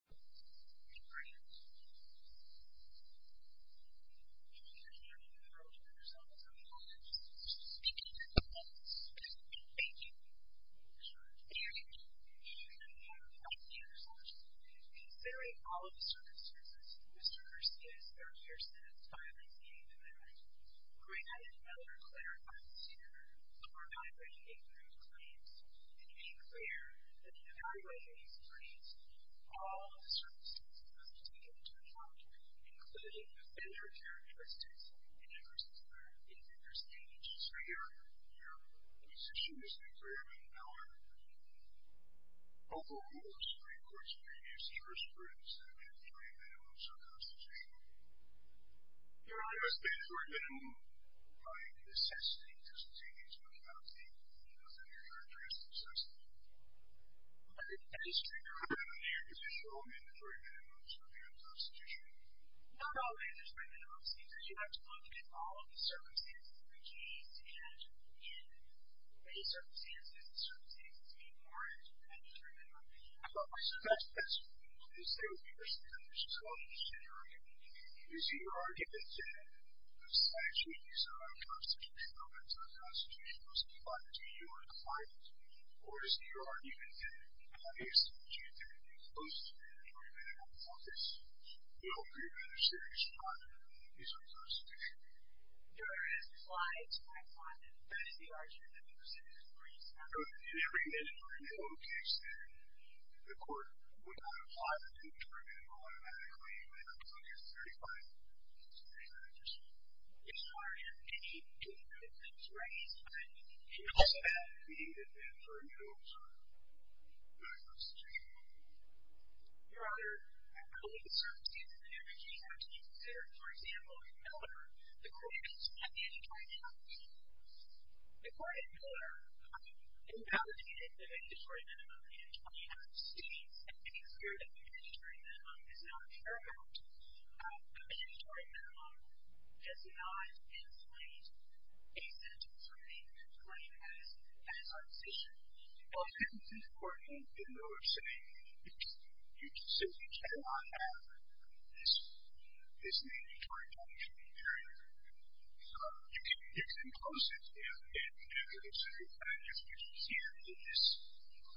In considering all of the circumstances in which Christopher Garcia's 30-year sentence finally came to an end, Graham and Mellor clarified the scenario for evaluating a group of claims and made clear that in evaluating these claims, all of the circumstances that were taken into account, including defender characteristics and differences in defender standards, were irrefutable. Your position is that Graham and Mellor overruled the Supreme Court's previous jurisprudence that a mandatory minimum should constitute a minimum? No, no. A mandatory minimum seems that you have to look at all of the circumstances in which he is to end, and in those circumstances, the circumstances being warranted as a mandatory minimum. So that's what you're saying? Your Honor, I believe the circumstances in which he is to be considered, for example, in Mellor, the court has not made a mandatory minimum. The court in Mellor invalidated the mandatory minimum in 20 out of 60, and made clear that a mandatory minimum is not a paramount. A mandatory minimum does not inflate a sentence or a claim as a decision. Well, this is important in Mellor's saying. You simply cannot have this mandatory minimum here. You can close it in Mellor's view, but I guess what you see here in this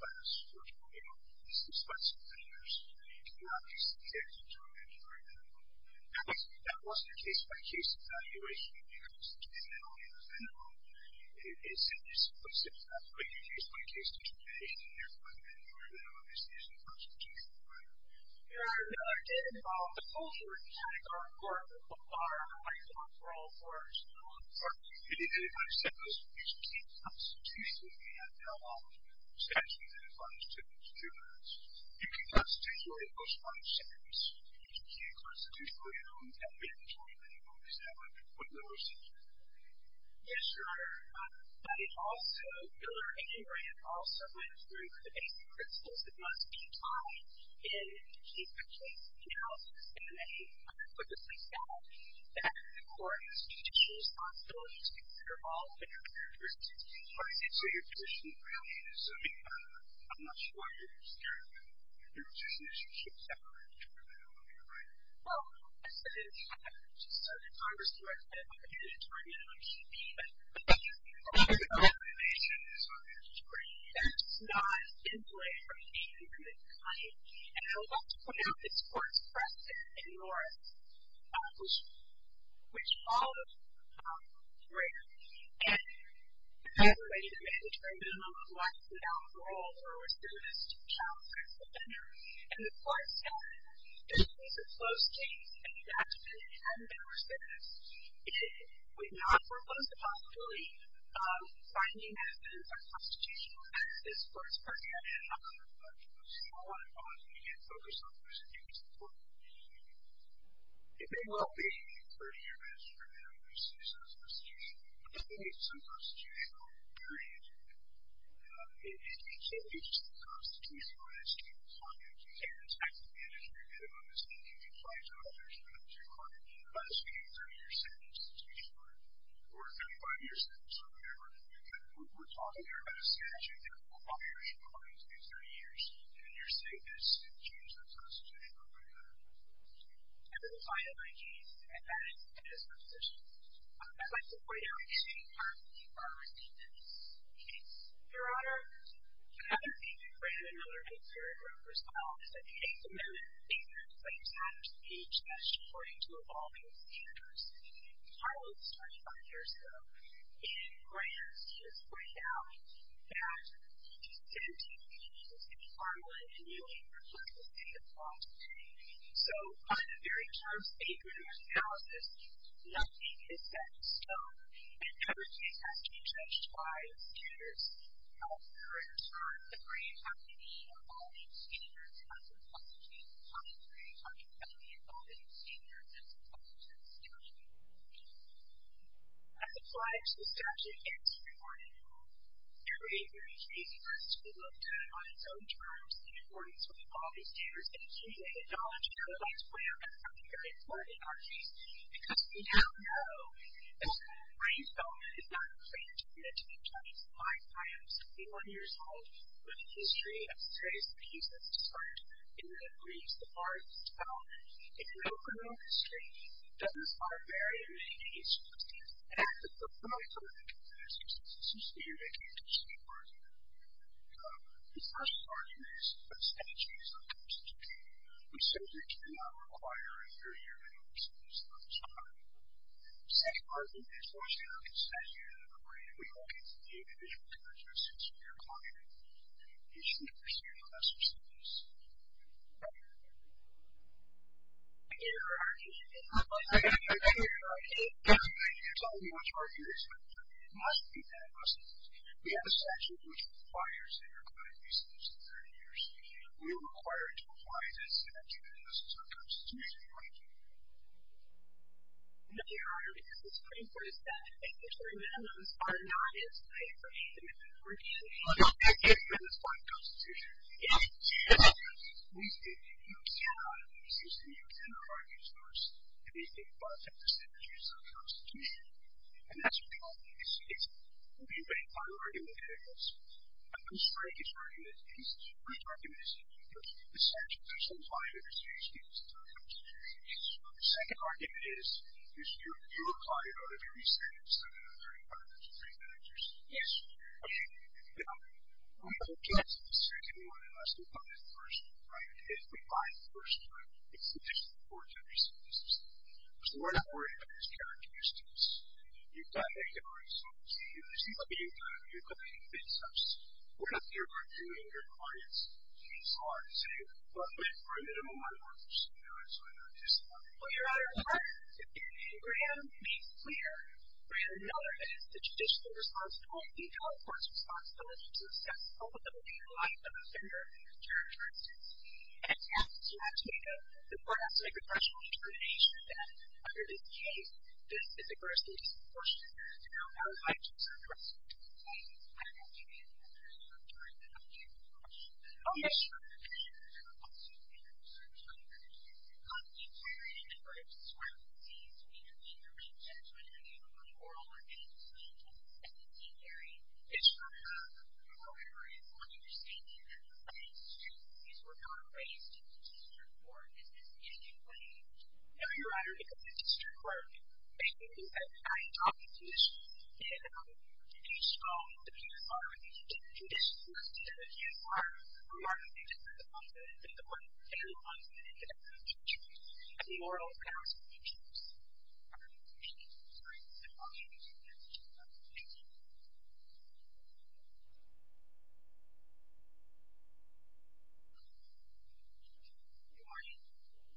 class, which is that Mellor is responsible, and there's not just a case of mandatory minimum. That wasn't a case-by-case evaluation. It was a case-by-case evaluation of the minimum. It simply simply said, that's a case-by-case determination. Therefore, the mandatory minimum is not a constitutional minimum. Your Honor, that did involve the closure of the Categorical Court of the Court of Arbitration for all courts. Your Honor, it did not set the Categorical Constitution. We have no knowledge of the statute that applies to the Categorical Court of Arbitration. You can constitute your own post-mortem sentence in the Categorical Constitutional realm and make a mandatory minimum. Is that what Mellor said here? Yes, Your Honor. But it also, Miller and Graham also went through the basic principles that must be applied in case-by-case analysis. And they explicitly said that the Court's judicial responsibility is to consider all of the contributors. All right. So your position really is, I mean, I'm not sure what your position is. Your position is you should separate the two of them, am I right? Well, yes, it is. I'm just a Congress director. I'm an attorney at an OECD. But I'm just an attorney. So I'm an attorney. That's not in play for me. I'm an attorney. And I would like to point out this Court's precedent in Norris, which followed Graham and evaluated a mandatory minimum of life without parole for a recidivist child as a vendor. And the Court said, if this was a closed case and you had to pin it on Mellor's witness, it would not propose the possibility of finding evidence of constitutional offense. This Court's precedent is not going to do that. So I want to pause and again focus on who's in charge of the Court. It may well be that 30 years after Graham loses his constitutional, at least some constitutional, period. It can't be just a constitutionalized case, can it? It can't be just a case where you get a mandatory minimum of safety, and you apply it to others, whether it's your client, unless you get a 30-year sentence to teach for it, or a 35-year sentence, or whatever. We're talking here about a statute that requires you, according to these 30 years, to be in your safehouse to change your constitutional record. And then finally, and that is the disposition. I'd like to point out two parts of the Norris case. Your Honor, the other thing that Graham and Mellor did very well was file a case amendment, a claims matter speech, that's according to evolving standards. Harlow was 25 years old. And Graham is, to this point now, 17 years old. He was in the farmland and kneeling before the state of Washington. So on the very first statement of analysis, nothing is set in stone, and everything has to be judged by the standards. However, in turn, the Graham company, evolving standards, has imposed a case on the Graham company, evolving standards, as opposed to the state of Washington. As applied to the statute, it's rewarding. It's very, very easy for us to look down on its own terms and affordance with evolving standards, and accumulate the knowledge of how the rights play out. That's something very important in our case, because we now know that the law of the brain, though, is not a claim to be made to be judged. My client is 71 years old, with a history of studies that he's not described, and that reads the part that's valid. In an open book of history, it doesn't start very early in history, and it has a preliminary code of conduct that is consistent with the state of Washington. The first part of it is that the state of Washington is not a claim to be made. We simply do not require a 30-year legal process for this kind of inquiry. The second part of it is, once we look at the statute of the brain, we look at the individual characteristics of your client, and we should pursue the lesser sentence. Thank you. Your Honor, I can't tell you how much more you respect it. It must be the lesser sentence. We have a statute which requires a required reason to 30 years. We are required to apply this in a judicial system that is constitutionally binding. Thank you, Your Honor, because the state of Washington is not a claim to be made. It's a constitution. It's a constitution. Yes. We state that you cannot, since you cannot argue first, anything but the statutes of the constitution, and that's what you ought to do. You see, it's being made by argumentators. A constraint is an argument, and this is your first argument, is that you can't give the statute to some client if it's used in a judicial system. The second argument is, you apply it on every sentence, and the third argument is that you can't use it. Yes. Now, we have a chance in the second one unless we come in first, right? If we come in first, it's an additional four to three sentences. So we're not worried about these characteristics. You've done it, Your Honor, so you receive what you've done, and you've done it in good steps. We're not here arguing your client's case law and saying, well, wait for a minimum time order, and so on and so forth. Your Honor, I want Graham to be clear. Graham Miller is the judicial responsible. He held the court's responsibility to assess all of the legal life of the offender. Your Honor, and he has to make a professional determination that under this case, this is a grossly disproportionate amount of liability for the offender. I don't know if you can hear me, Your Honor. I'm trying to help you. Oh, yes, Your Honor. Your Honor, I have a question for you. I'm trying to understand, how do you carry in a case where it seems to me to be the right judgment in a really moral or ethical sense as it's said to be carried? It's hard to answer. However, it's my understanding that in the state of Massachusetts, these were not raised in the judicial report. Is this in any way? No, Your Honor, because it's a strict work. Basically, I am talking to this, and each of the people involved in the judicial conditions must do their due work in order to get the results that they want and the ones that they can get from the jury as moral and ethical judges. Thank you. Your Honor, and I'll leave you with that. Thank you. Good morning.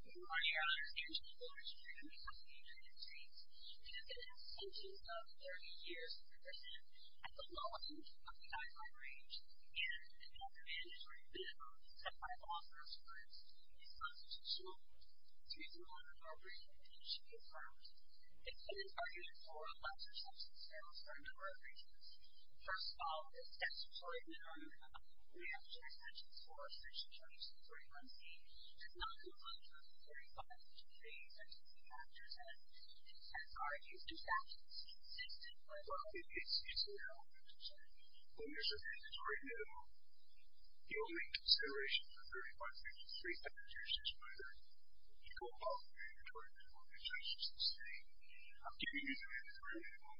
Good morning, Your Honor. I'm Angela Flores, and I'm representing the United States. We have been in this position for about 30 years. We represent at the low end of the I-5 range, and we have been in it for a good amount of time. I've also experienced a constitutional reason in which our brief condition can be affirmed. It's been argued for a lesser substance for a number of reasons. First of all, the statutory minimum that we have as jury sentences for Section 2241C does not include Section 235, which is a sentencing factor that has argued in fact is consistent with our previous When there's a mandatory minimum, the only consideration for 35 pages and three pages is whether you go above the mandatory minimum that judges sustain. I'm giving you the mandatory minimum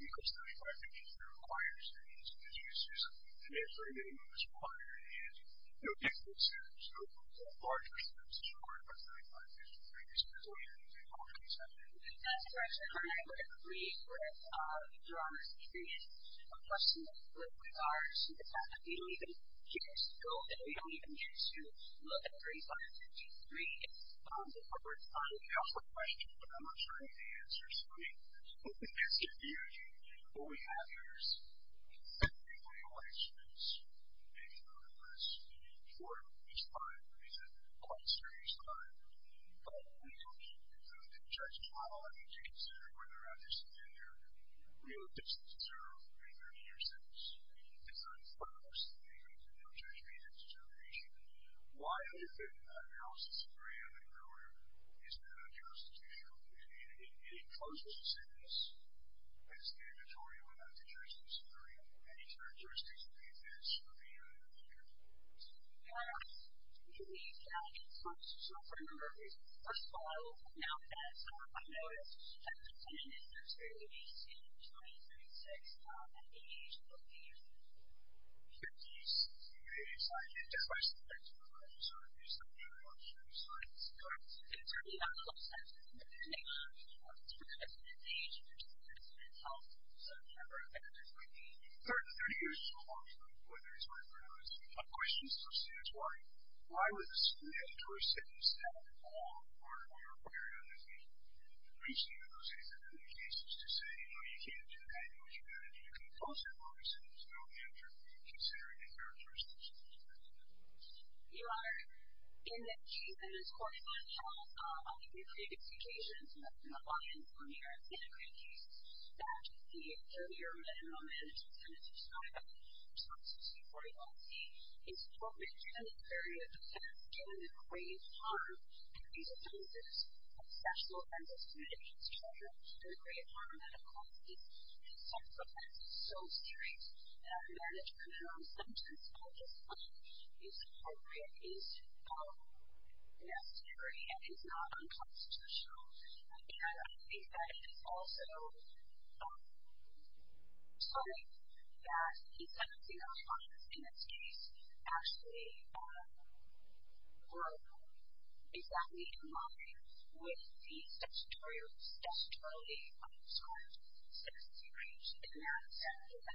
because 35 pages requires that you submit your sentencing. The mandatory minimum that's required is no different sentences, no larger sentences required by 35 pages and three pages. That's all you need to be able to accept it. That's correct, Your Honor. And I would agree that Your Honor is creating a precedent with regards to the fact that we don't even get to go that we don't even get to look at 35 pages and three pages of the court. Your Honor, I'm not sure I have the answer so let me ask you what we have here is we have 33 elections and it's important at this time because it's quite a serious time but we don't judge judges and I want you to consider whether or not you're submitting your real sentences or your 30 year sentences. If it's unfortunate that you can't judge these as a determination why isn't the analysis agreement that you wrote isn't a justice issue and I think that it's also sort of that the sentencing documents in this case actually were exactly in line with the statutorily prescribed sentencing agreement in that sentence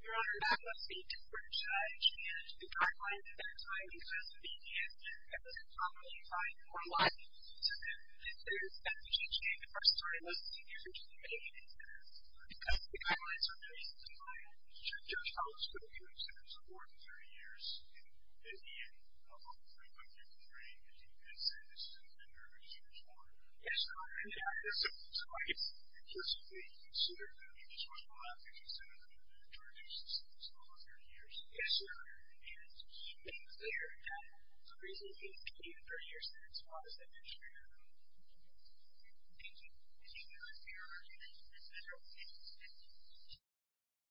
and that's not the